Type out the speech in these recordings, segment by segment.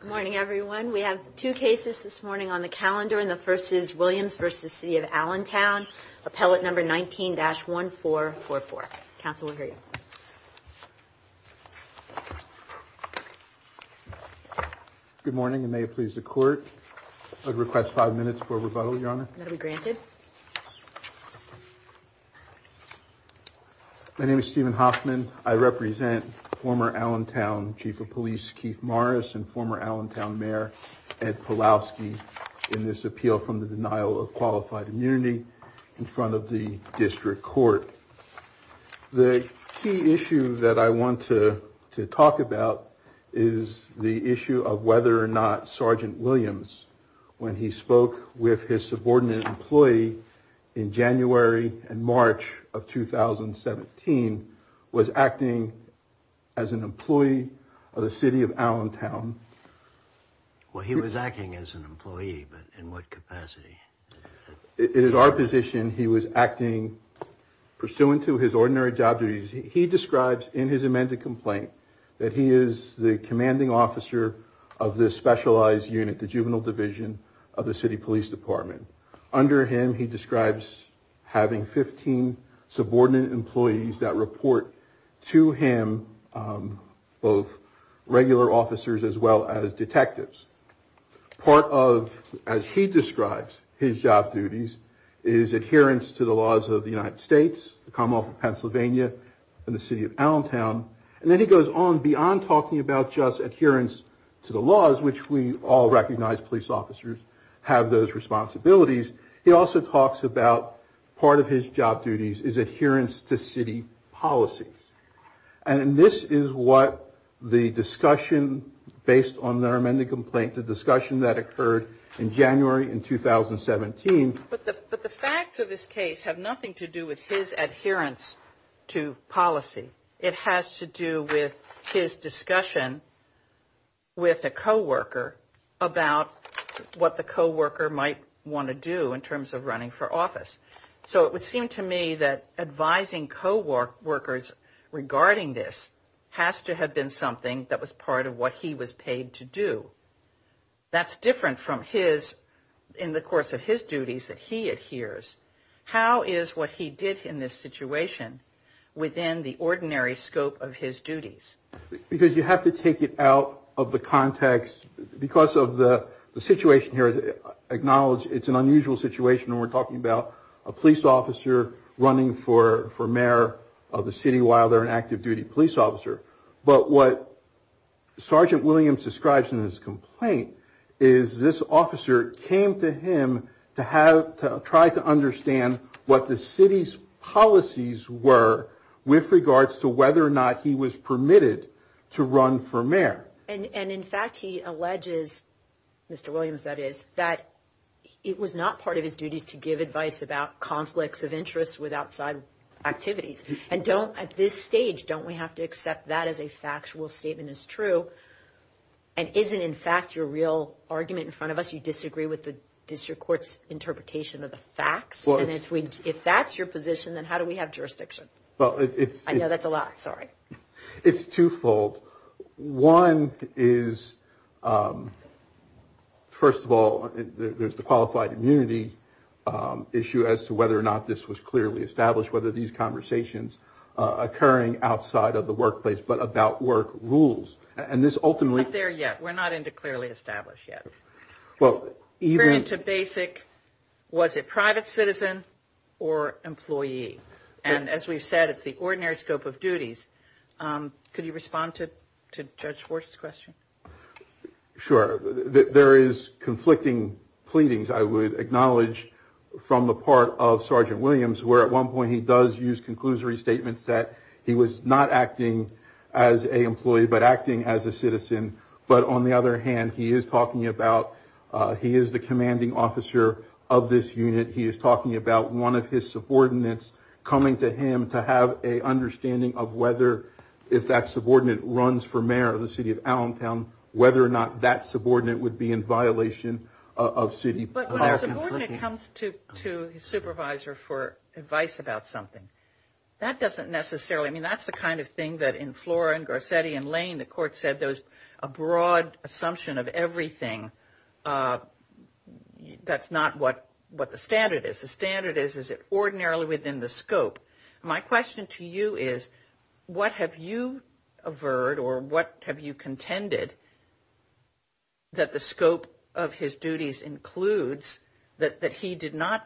Good morning, everyone. We have two cases this morning on the calendar, and the first is Williams v. City of Allentown, Appellate No. 19-1444. Council will hear you. Good morning, and may it please the Court, I'd request five minutes for rebuttal, Your Honor. That will be granted. My name is Stephen Hoffman. I represent former Allentown Chief of Police Keith Morris and former Allentown Mayor Ed Pawlowski in this appeal from the denial of qualified immunity in front of the District Court. The key issue that I want to talk about is the issue of whether or not Sergeant Williams, when he spoke with his subordinate employee in January and March of 2017, was acting as an employee of the City of Allentown. Well, he was acting as an employee, but in what capacity? In our position, he was acting pursuant to his ordinary job duties. He describes in his amended complaint that he is the commanding officer of this specialized unit, the Juvenile Division of the City Police Department. Under him, he describes having 15 subordinate employees that report to him both regular officers as well as detectives. Part of, as he describes, his job duties is adherence to the laws of the United States, the Commonwealth of Pennsylvania, and the City of Allentown. And then he goes on beyond talking about just adherence to the laws, which we all recognize police officers have those responsibilities. He also talks about part of his job duties is adherence to city policy. And this is what the discussion based on their amended complaint, the discussion that occurred in January in 2017. But the facts of this case have nothing to do with his adherence to policy. It has to do with his discussion with a co-worker about what the co-worker might want to do in terms of running for office. So it would seem to me that advising co-workers regarding this has to have been something that was part of what he was paid to do. That's different from his, in the course of his duties that he adheres. How is what he did in this situation within the ordinary scope of his duties? Because you have to take it out of the context. Because of the situation here, acknowledge it's an unusual situation when we're talking about a police officer running for mayor of the city while they're an active duty police officer. But what Sergeant Williams describes in his complaint is this officer came to him to try to understand what the city's policies were with regards to whether or not he was permitted to run for mayor. And in fact he alleges, Mr. Williams that is, that it was not part of his duties to give advice about conflicts of interest with outside activities. And at this stage, don't we have to accept that as a factual statement as true? And isn't in fact your real argument in front of us, you disagree with the district court's interpretation of the facts? And if that's your position, then how do we have jurisdiction? I know that's a lot, sorry. It's twofold. One is, first of all, there's the qualified immunity issue as to whether or not this was clearly established, whether these conversations occurring outside of the workplace, but about work rules. We're not into clearly established yet. We're into basic, was it private citizen or employee? And as we've said, it's the ordinary scope of duties. Could you respond to Judge Schwartz's question? Sure. There is conflicting pleadings, I would acknowledge from the part of Sergeant Williams, where at one point he does use conclusory statements that he was not acting as a employee, but acting as a citizen. But on the other hand, he is talking about, he is the commanding officer of this unit. He is talking about one of his subordinates coming to him to have a understanding of whether if that subordinate runs for mayor of the city of Allentown, whether or not that subordinate would be in violation of city policy. But when a subordinate comes to his supervisor for advice about something, that doesn't necessarily, I mean, that's the kind of thing that in Flora and Garcetti and Lane, the court said there was a broad assumption of everything. That's not what the standard is. The standard is, is it ordinarily within the scope? My question to you is, what have you averred or what have you contended that the scope of his duties includes that he did not,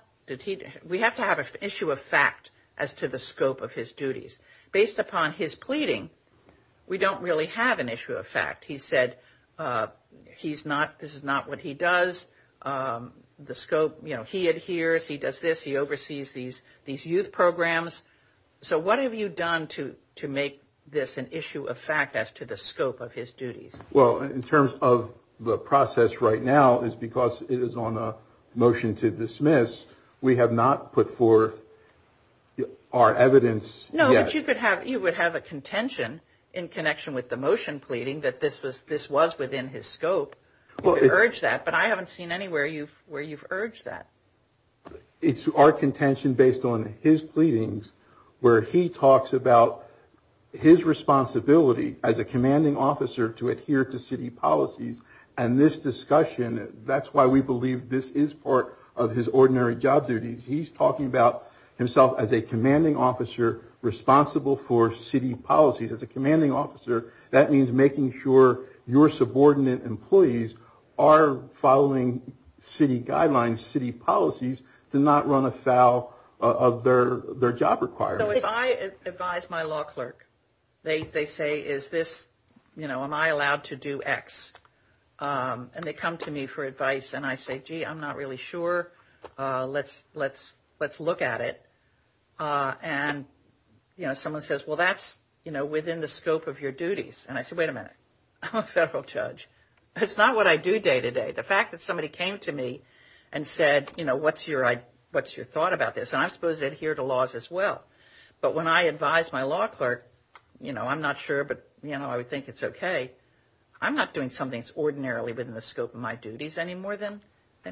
we have to have an issue of fact as to the scope of his duties. Based upon his pleading, we don't really have an issue of fact. He said he's not, this is not what he does. The scope, you know, he adheres, he does this, he oversees these youth programs. So what have you done to make this an issue of fact as to the scope of his duties? Well, in terms of the process right now is because it is on a motion to dismiss. We have not put forth our evidence. No, but you could have, you would have a contention in connection with the motion pleading that this was, this was within his scope. Well, I urge that, but I haven't seen anywhere you've where you've urged that. It's our contention based on his pleadings where he talks about his responsibility as a commanding officer to adhere to city policies. And this discussion, that's why we believe this is part of his ordinary job duties. He's talking about himself as a commanding officer responsible for city policies. As a commanding officer, that means making sure your subordinate employees are following city guidelines, city policies, to not run afoul of their job requirements. So if I advise my law clerk, they say, is this, you know, am I allowed to do X? And they come to me for advice and I say, gee, I'm not really sure. Let's, let's, let's look at it. And, you know, someone says, well, that's, you know, within the scope of your duties. And I said, wait a minute. I'm a federal judge. It's not what I do day to day. The fact that somebody came to me and said, you know, what's your, what's your thought about this? And I'm supposed to adhere to laws as well. But when I advise my law clerk, you know, I'm not sure, but, you know, I would think it's okay. I'm not doing something that's ordinarily within the scope of my duties any more than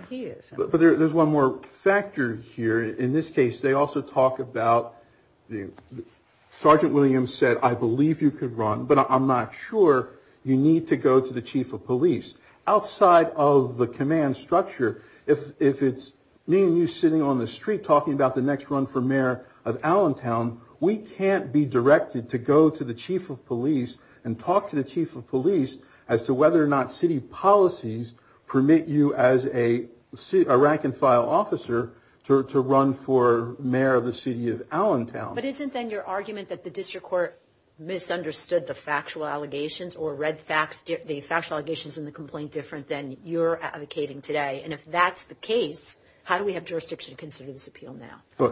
he is. But there's one more factor here. In this case, they also talk about, Sergeant Williams said, I believe you could run, but I'm not sure you need to go to the chief of police. Outside of the command structure, if it's me and you sitting on the street talking about the next run for mayor of Allentown, we can't be directed to go to the chief of police and talk to the chief of police as to whether or not city policies permit you as a rank and file officer to run for mayor of the city of Allentown. But isn't then your argument that the district court misunderstood the factual allegations or read the factual allegations in the complaint different than you're advocating today? And if that's the case, how do we have jurisdiction to consider this appeal now?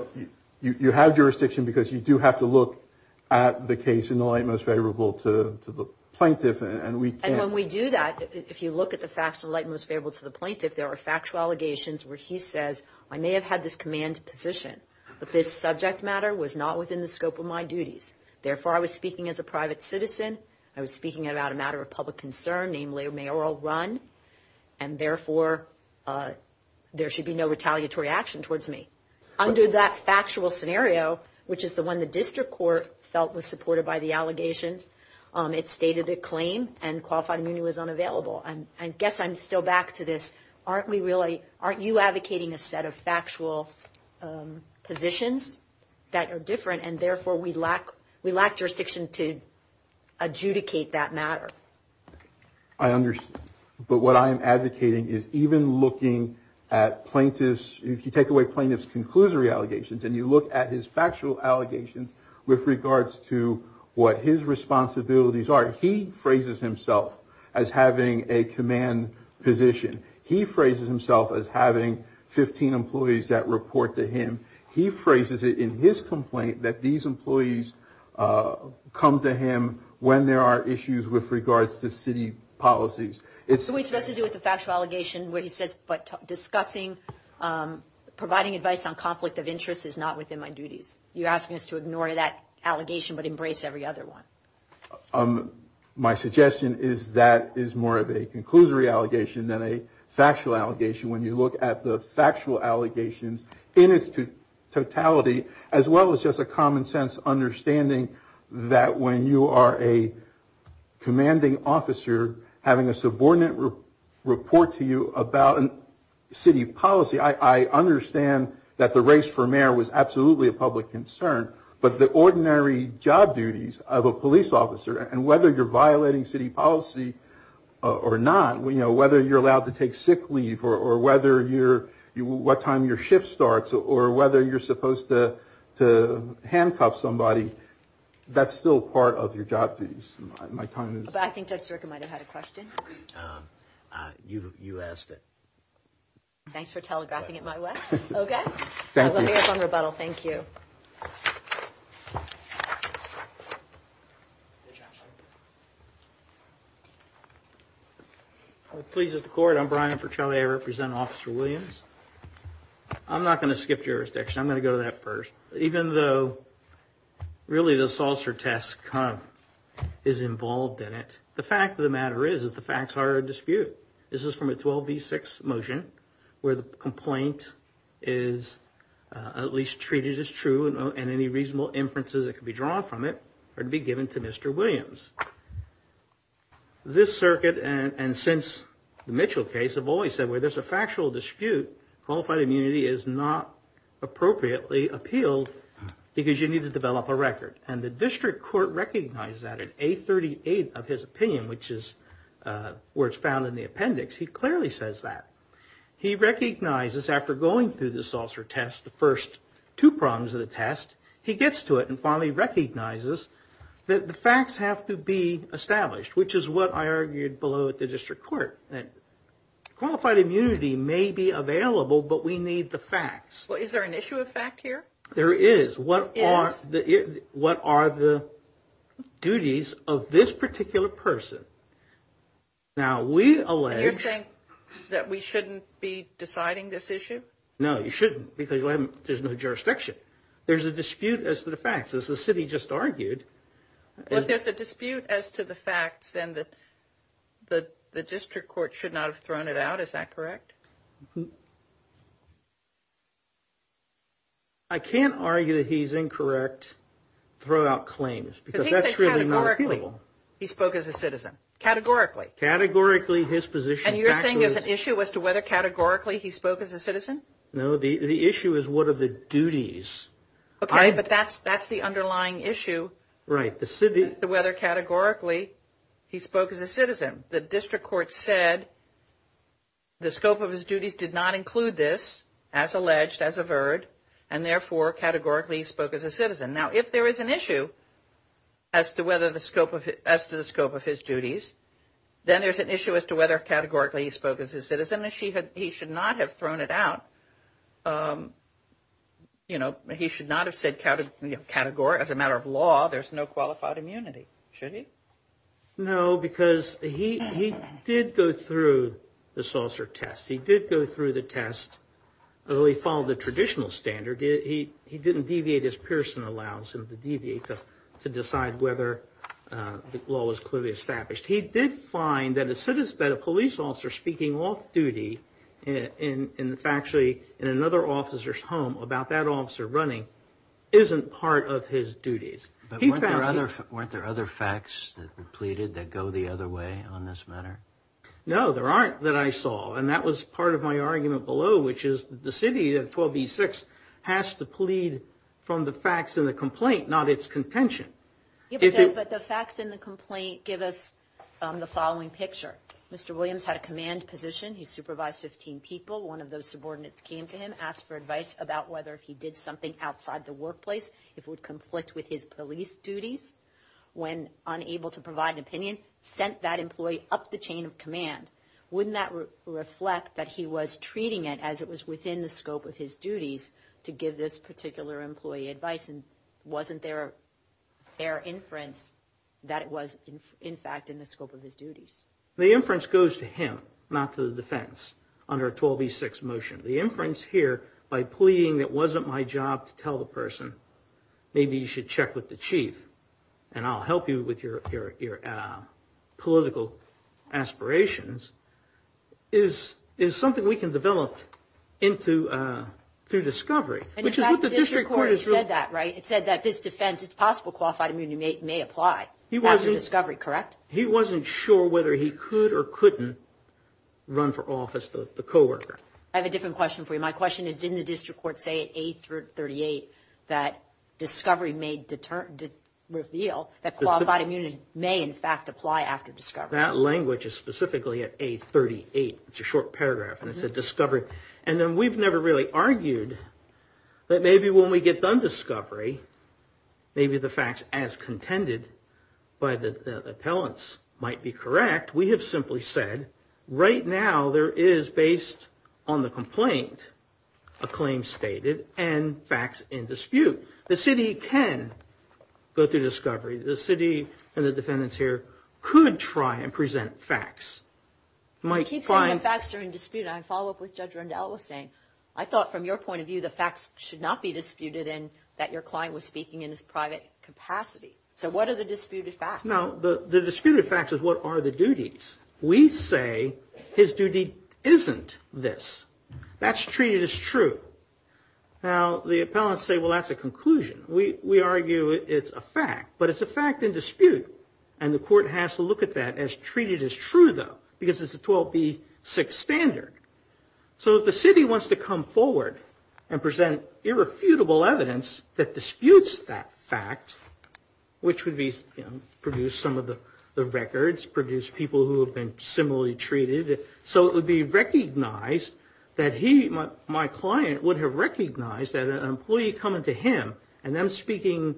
You have jurisdiction because you do have to look at the case in the light most favorable to the plaintiff. And when we do that, if you look at the facts of light most favorable to the plaintiff, there are factual allegations where he says, I may have had this command position, but this subject matter was not within the scope of my duties. Therefore, I was speaking as a private citizen. I was speaking about a matter of public concern, namely a mayoral run. And therefore, there should be no retaliatory action towards me. Under that factual scenario, which is the one the district court felt was supported by the allegations, it stated the claim and qualified immunity was unavailable. And I guess I'm still back to this. Aren't we really aren't you advocating a set of factual positions that are different? And therefore, we lack we lack jurisdiction to adjudicate that matter. I understand. But what I'm advocating is even looking at plaintiffs, if you take away plaintiffs' conclusory allegations and you look at his factual allegations with regards to what his responsibilities are, he phrases himself as having a command position. He phrases himself as having 15 employees that report to him. He phrases it in his complaint that these employees come to him when there are issues with regards to city policies. It's what we supposed to do with the factual allegation where he says, but discussing providing advice on conflict of interest is not within my duties. You're asking us to ignore that allegation, but embrace every other one. My suggestion is that is more of a conclusory allegation than a factual allegation. When you look at the factual allegations in its totality, as well as just a common sense understanding that when you are a commanding officer having a subordinate report to you about city policy, I understand that the race for mayor was absolutely a public concern. But the ordinary job duties of a police officer and whether you're violating city policy or not, whether you're allowed to take sick leave or what time your shift starts or whether you're supposed to handcuff somebody, that's still part of your job duties. I think Judge Sirica might have had a question. You asked it. Thanks for telegraphing it my way. Thank you. Thank you. Thank you. Please record I'm Brian for Charlie I represent Officer Williams. I'm not going to skip jurisdiction I'm going to go to that first, even though really the saucer tests come is involved in it. The fact of the matter is is the facts are a dispute. This is from a 12 v. 6 motion where the complaint is at least treated as true and any reasonable inferences that can be drawn from it are to be given to Mr. Williams. This circuit and since the Mitchell case have always said where there's a factual dispute, qualified immunity is not appropriately appealed because you need to develop a record. And the district court recognized that in A38 of his opinion, which is where it's found in the appendix, he clearly says that. He recognizes after going through the saucer test, the first two problems of the test, he gets to it and finally recognizes that the facts have to be established, which is what I argued below at the district court, that qualified immunity may be available, but we need the facts. Well, is there an issue of fact here? There is. What are the duties of this particular person? Now, we allege. And you're saying that we shouldn't be deciding this issue? No, you shouldn't because there's no jurisdiction. There's a dispute as to the facts, as the city just argued. Well, if there's a dispute as to the facts, then the district court should not have thrown it out. Is that correct? I can't argue that he's incorrect throughout claims because that's really not appealable. He spoke as a citizen, categorically. Categorically, his position. And you're saying there's an issue as to whether categorically he spoke as a citizen? No, the issue is what are the duties. Okay, but that's the underlying issue. Right. As to whether categorically he spoke as a citizen. The district court said the scope of his duties did not include this, as alleged, as averred, and therefore categorically he spoke as a citizen. Now, if there is an issue as to the scope of his duties, then there's an issue as to whether categorically he spoke as a citizen. He should not have thrown it out. You know, he should not have said category. As a matter of law, there's no qualified immunity. Should he? No, because he did go through the saucer test. He did go through the test. Although he followed the traditional standard, he didn't deviate his Pearson allowance to decide whether the law was clearly established. He did find that a police officer speaking off-duty in another officer's home about that officer running isn't part of his duties. But weren't there other facts that were pleaded that go the other way on this matter? No, there aren't that I saw. And that was part of my argument below, which is the city of 12E6 has to plead from the facts in the complaint, not its contention. But the facts in the complaint give us the following picture. Mr. Williams had a command position. He supervised 15 people. One of those subordinates came to him, asked for advice about whether he did something outside the workplace. It would conflict with his police duties. When unable to provide an opinion, sent that employee up the chain of command. Wouldn't that reflect that he was treating it as it was within the scope of his duties to give this particular employee advice? And wasn't there a fair inference that it was, in fact, in the scope of his duties? The inference goes to him, not to the defense, under 12E6 motion. The inference here, by pleading it wasn't my job to tell the person, maybe you should check with the chief, and I'll help you with your political aspirations, is something we can develop through discovery. In fact, the district court said that, right? It said that this defense, it's possible qualified immunity may apply after discovery, correct? He wasn't sure whether he could or couldn't run for office, the coworker. I have a different question for you. My question is, didn't the district court say at A38 that discovery may reveal that qualified immunity may, in fact, apply after discovery? That language is specifically at A38. It's a short paragraph, and it said discovery. And then we've never really argued that maybe when we get done discovery, maybe the facts as contended by the appellants might be correct. We have simply said, right now there is, based on the complaint, a claim stated, and facts in dispute. The city can go through discovery. The city and the defendants here could try and present facts. They keep saying the facts are in dispute, and I follow up with Judge Rundell saying, I thought from your point of view the facts should not be disputed, and that your client was speaking in his private capacity. So what are the disputed facts? Now, the disputed facts is what are the duties? We say his duty isn't this. That's treated as true. Now, the appellants say, well, that's a conclusion. We argue it's a fact, but it's a fact in dispute. And the court has to look at that as treated as true, though, because it's a 12B6 standard. So if the city wants to come forward and present irrefutable evidence that disputes that fact, which would produce some of the records, produce people who have been similarly treated, so it would be recognized that he, my client, would have recognized that an employee coming to him and them speaking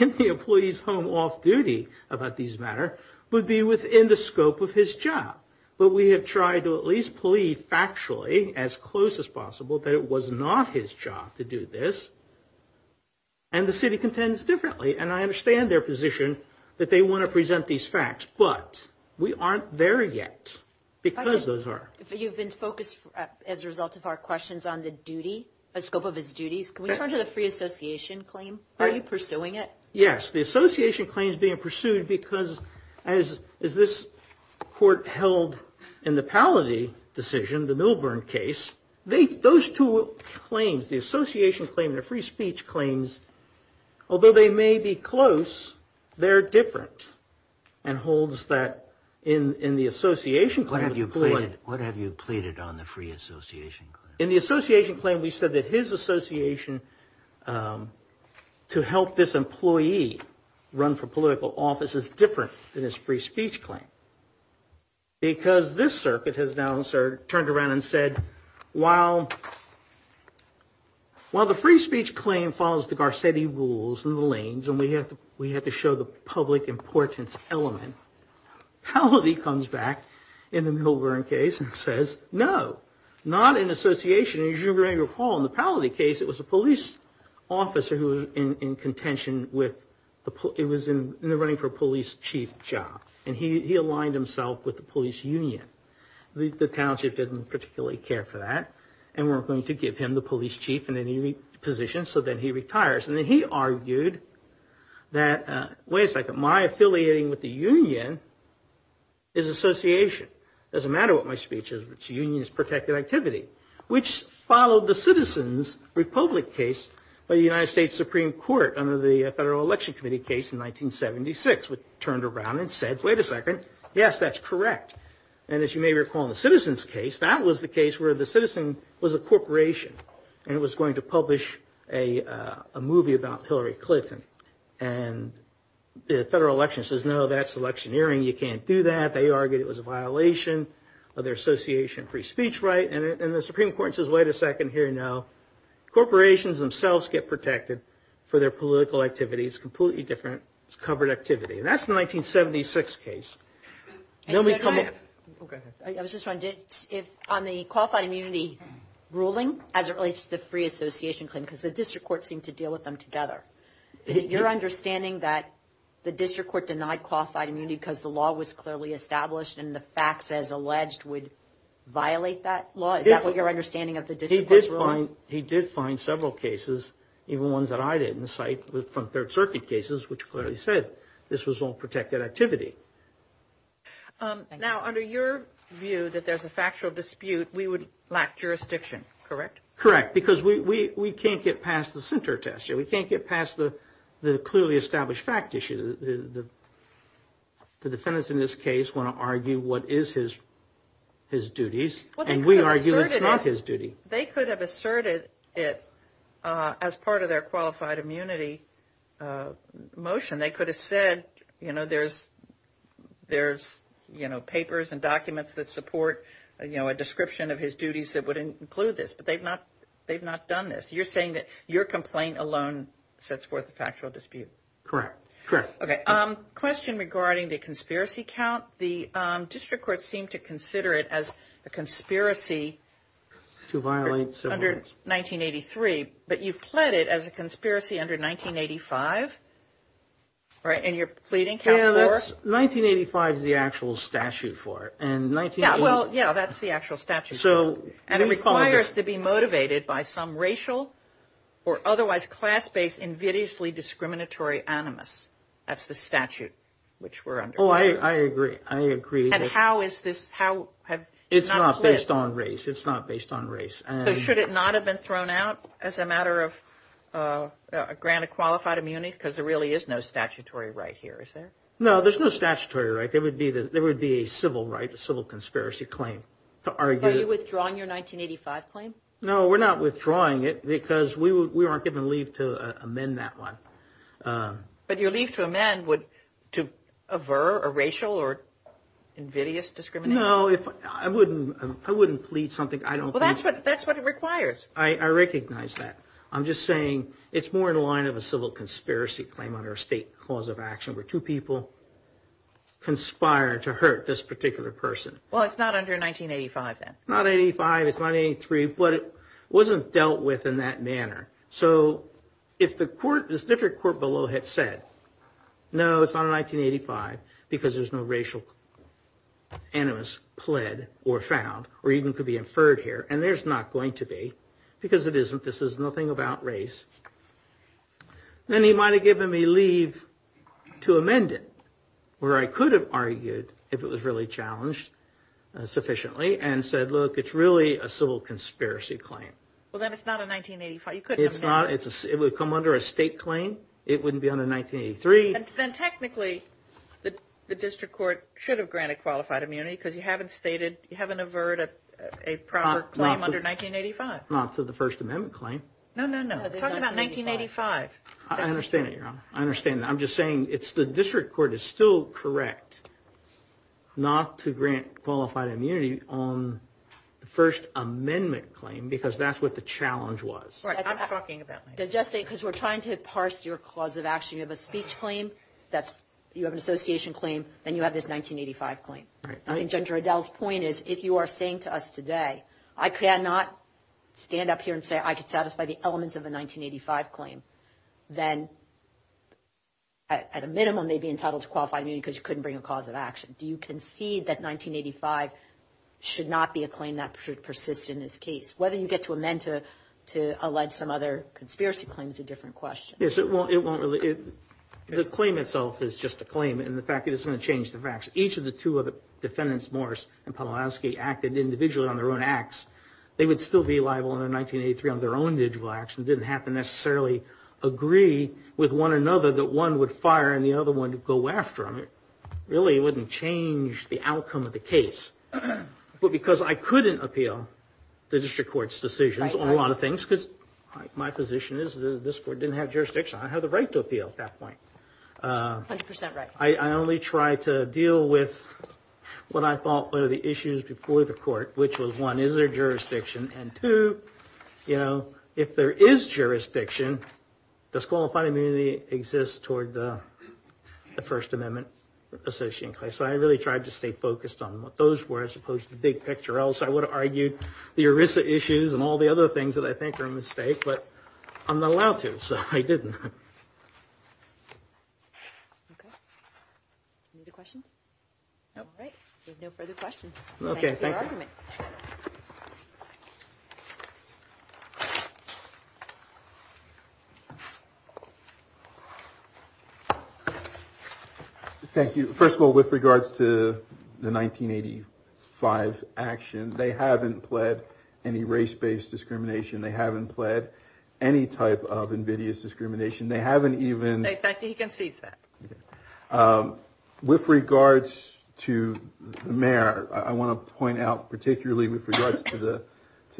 in the employee's home off-duty about these matters would be within the scope of his job. But we have tried to at least plead factually as close as possible that it was not his job to do this, and the city contends differently. And I understand their position that they want to present these facts, but we aren't there yet because those are. You've been focused, as a result of our questions, on the scope of his duties. Can we turn to the free association claim? Are you pursuing it? Yes, the association claim is being pursued because, as this court held in the Palladay decision, the Milburn case, those two claims, the association claim and the free speech claims, although they may be close, they're different, and holds that in the association claim. What have you pleaded on the free association claim? In the association claim, we said that his association to help this employee run for political office is different than his free speech claim. Because this circuit has now turned around and said, while the free speech claim follows the Garcetti rules and the lanes, and we have to show the public importance element, Palladay comes back in the Milburn case and says, no, not in association. As you may recall, in the Palladay case, it was a police officer who was in contention with, it was in the running for police chief job, and he aligned himself with the police union. The township didn't particularly care for that and weren't going to give him the police chief position, so then he retires. And then he argued that, wait a second, my affiliating with the union is association. It doesn't matter what my speech is, but the union is protected activity, which followed the Citizens Republic case by the United States Supreme Court under the Federal Election Committee case in 1976, which turned around and said, wait a second, yes, that's correct. And as you may recall in the Citizens case, that was the case where the citizen was a corporation and was going to publish a movie about Hillary Clinton. And the federal election says, no, that's electioneering. You can't do that. They argued it was a violation of their association free speech right, and the Supreme Court says, wait a second, here, no. Corporations themselves get protected for their political activities. It's completely different. It's covered activity. And that's the 1976 case. Then we come up. Go ahead. I was just wondering, on the qualified immunity ruling as it relates to the free association claim, because the district court seemed to deal with them together, your understanding that the district court denied qualified immunity because the law was clearly established and the facts as alleged would violate that law? Is that what your understanding of the district court's ruling? He did find several cases, even ones that I didn't cite, from Third Circuit cases, which clearly said this was all protected activity. Now, under your view that there's a factual dispute, we would lack jurisdiction, correct? Correct, because we can't get past the center test. We can't get past the clearly established fact issue. The defendants in this case want to argue what is his duties, and we argue it's not his duty. They could have asserted it as part of their qualified immunity motion. They could have said, you know, there's, you know, papers and documents that support, you know, a description of his duties that would include this, but they've not done this. You're saying that your complaint alone sets forth a factual dispute? Correct, correct. Okay, question regarding the conspiracy count. The district courts seem to consider it as a conspiracy. To violate civil rights. Under 1983, but you've pled it as a conspiracy under 1985, right? And you're pleading count four? Yeah, that's 1985 is the actual statute for it. Yeah, well, yeah, that's the actual statute. And it requires to be motivated by some racial or otherwise class-based, invidiously discriminatory animus. That's the statute which we're under. Oh, I agree. I agree. And how is this? It's not based on race. It's not based on race. So should it not have been thrown out as a matter of a grant of qualified immunity? Because there really is no statutory right here, is there? No, there's no statutory right. There would be a civil right, a civil conspiracy claim to argue. Are you withdrawing your 1985 claim? No, we're not withdrawing it because we aren't given leave to amend that one. But your leave to amend would to aver a racial or invidious discrimination? No, I wouldn't plead something I don't think. Well, that's what it requires. I recognize that. I'm just saying it's more in line of a civil conspiracy claim under a state clause of action where two people conspire to hurt this particular person. Well, it's not under 1985 then. Not 1985. It's 1983. But it wasn't dealt with in that manner. So if the court, this different court below had said, no, it's not 1985 because there's no racial animus pled or found or even could be inferred here, and there's not going to be because it isn't. This is nothing about race. Then he might have given me leave to amend it where I could have argued if it was really challenged sufficiently and said, look, it's really a civil conspiracy claim. Well, then it's not a 1985. You could amend it. It would come under a state claim. It wouldn't be under 1983. Then technically the district court should have granted qualified immunity because you haven't stated, you haven't averred a proper claim under 1985. Not to the First Amendment claim. No, no, no. Talk about 1985. I understand that, Your Honor. I understand that. I'm just saying it's the district court is still correct not to grant qualified immunity on the First Amendment claim because that's what the challenge was. All right. I'm talking about 1985. Because we're trying to parse your cause of action. You have a speech claim. You have an association claim. Then you have this 1985 claim. Right. I think Judge Riddell's point is if you are saying to us today, I cannot stand up here and say I could satisfy the elements of a 1985 claim, then at a minimum they'd be entitled to qualified immunity because you couldn't bring a cause of action. Do you concede that 1985 should not be a claim that persists in this case? Whether you get to amend to allege some other conspiracy claim is a different question. Yes. It won't really. The claim itself is just a claim. And the fact is it's going to change the facts. Each of the two defendants, Morris and Pawlowski, acted individually on their own acts. They would still be liable in 1983 on their own individual acts and didn't have to necessarily agree with one another that one would fire and the other one would go after them. It really wouldn't change the outcome of the case. But because I couldn't appeal the district court's decisions on a lot of things, because my position is this court didn't have jurisdiction. I had the right to appeal at that point. 100% right. I only tried to deal with what I thought were the issues before the court, which was one, is there jurisdiction? And two, if there is jurisdiction, disqualified immunity exists toward the First Amendment. So I really tried to stay focused on what those were as opposed to the big picture. Or else I would have argued the ERISA issues and all the other things that I think are a mistake. But I'm not allowed to. So I didn't. Okay. Any other questions? No. All right. We have no further questions. Thank you for your argument. Okay. Thank you. First of all, with regards to the 1985 action, they haven't pled any race-based discrimination. They haven't pled any type of invidious discrimination. They haven't even. In fact, he concedes that. With regards to the mayor, I want to point out particularly with regards to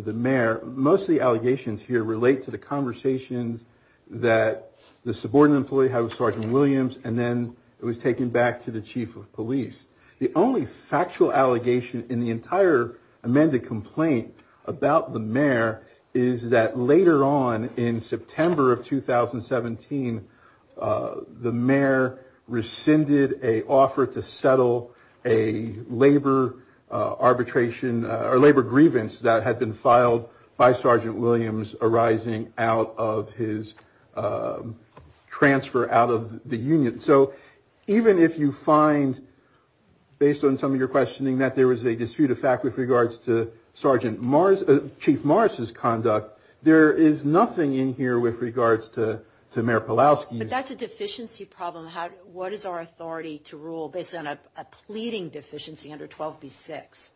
the mayor, most of the allegations here relate to the conversations that the subordinate employee had with Sergeant Williams and then it was taken back to the chief of police. The only factual allegation in the entire amended complaint about the mayor is that later on in September of 2017, the mayor rescinded an offer to settle a labor arbitration or labor grievance that had been filed by Sergeant Williams arising out of his transfer out of the union. So even if you find, based on some of your questioning, that there was a dispute of fact with regards to Chief Morris' conduct, there is nothing in here with regards to Mayor Pawlowski's. But that's a deficiency problem. What is our authority to rule based on a pleading deficiency under 12B6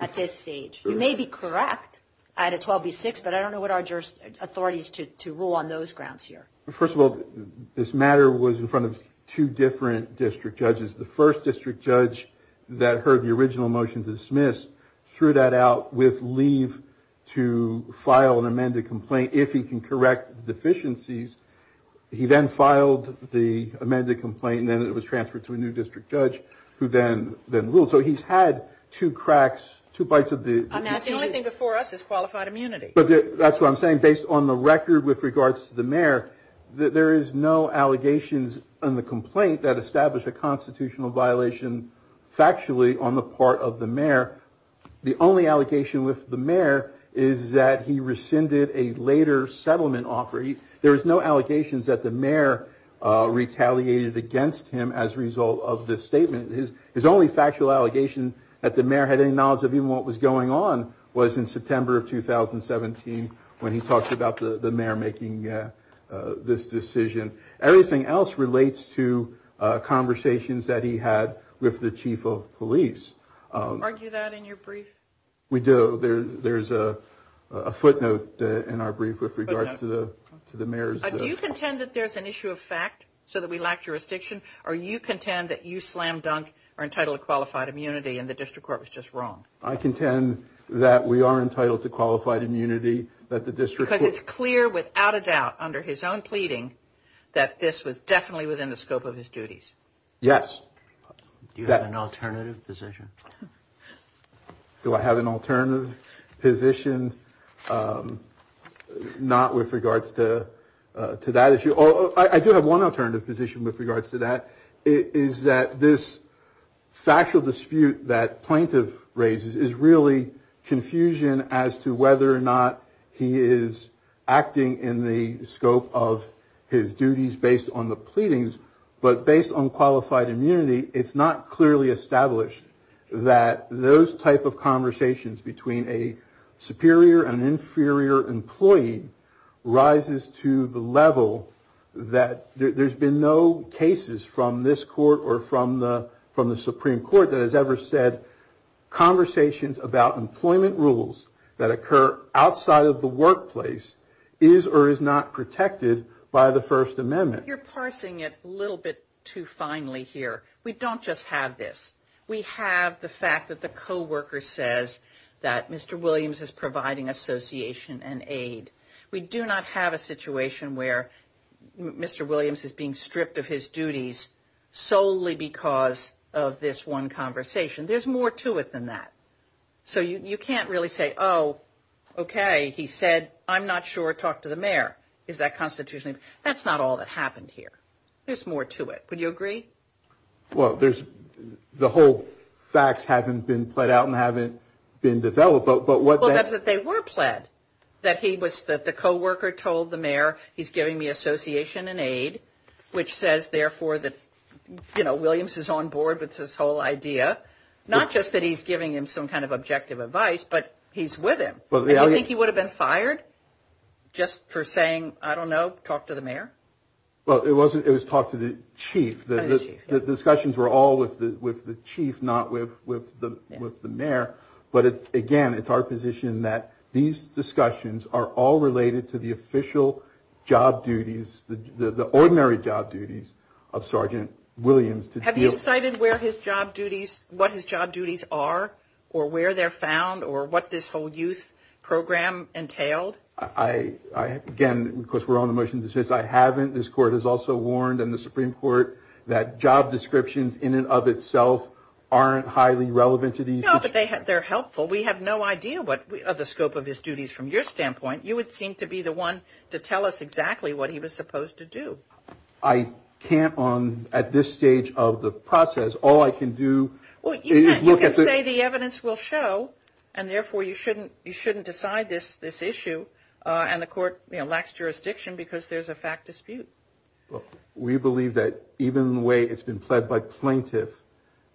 at this stage? You may be correct at a 12B6, but I don't know what our authority is to rule on those grounds here. First of all, this matter was in front of two different district judges. The first district judge that heard the original motion to dismiss threw that out with leave to file an amended complaint if he can correct the deficiencies. He then filed the amended complaint and then it was transferred to a new district judge who then ruled. So he's had two cracks, two bites of the... The only thing before us is qualified immunity. That's what I'm saying. Based on the record with regards to the mayor, there is no allegations in the constitutional violation factually on the part of the mayor. The only allegation with the mayor is that he rescinded a later settlement offer. There is no allegations that the mayor retaliated against him as a result of this statement. His only factual allegation that the mayor had any knowledge of even what was going on was in September of 2017 when he talked about the mayor making this decision. Everything else relates to conversations that he had with the chief of police. Do you argue that in your brief? We do. There's a footnote in our brief with regards to the mayor's... Do you contend that there's an issue of fact so that we lack jurisdiction or you contend that you slam dunk are entitled to qualified immunity and the district court was just wrong? I contend that we are entitled to qualified immunity that the district... Because it's clear without a doubt under his own pleading that this was definitely within the scope of his duties. Yes. Do you have an alternative position? Do I have an alternative position? Not with regards to that issue. I do have one alternative position with regards to that. It is that this factual dispute that plaintiff raises is really confusion as to whether or not he is acting in the scope of his duties based on the pleadings but based on qualified immunity it's not clearly established that those type of conversations between a superior and inferior employee rises to the level that there's been no cases from this court or from the Supreme Court that has ever said conversations about employment rules that occur outside of the workplace is or is not protected by the First Amendment. You're parsing it a little bit too finely here. We don't just have this. We have the fact that the co-worker says that Mr. Williams is providing association and aid. We do not have a situation where Mr. Williams is being stripped of his duties solely because of this one conversation. There's more to it than that. So you can't really say, oh, okay, he said, I'm not sure. Talk to the mayor. Is that constitutionally? That's not all that happened here. There's more to it. Would you agree? Well, the whole facts haven't been played out and haven't been developed. Well, that's that they were played, that the co-worker told the mayor he's giving me association and aid, which says, therefore, that, you know, not just that he's giving him some kind of objective advice, but he's with him. Do you think he would have been fired just for saying, I don't know, talk to the mayor? Well, it was talk to the chief. The discussions were all with the chief, not with the mayor. But, again, it's our position that these discussions are all related to the official job duties, the ordinary job duties of Sergeant Williams. Have you cited what his job duties are or where they're found or what this whole youth program entailed? Again, of course, we're on the motion to dismiss. I haven't. This court has also warned, and the Supreme Court, that job descriptions in and of itself aren't highly relevant to these. No, but they're helpful. We have no idea of the scope of his duties from your standpoint. You would seem to be the one to tell us exactly what he was supposed to do. I can't at this stage of the process. All I can do is look at the- Well, you can say the evidence will show, and therefore you shouldn't decide this issue, and the court lacks jurisdiction because there's a fact dispute. We believe that even the way it's been pled by plaintiff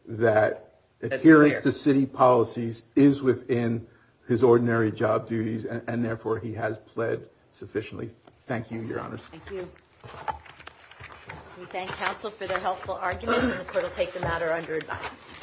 that adherence to city policies is within his ordinary job duties, and therefore he has pled sufficiently. Thank you, Your Honors. Thank you. We thank counsel for their helpful arguments, and the court will take the matter under advice.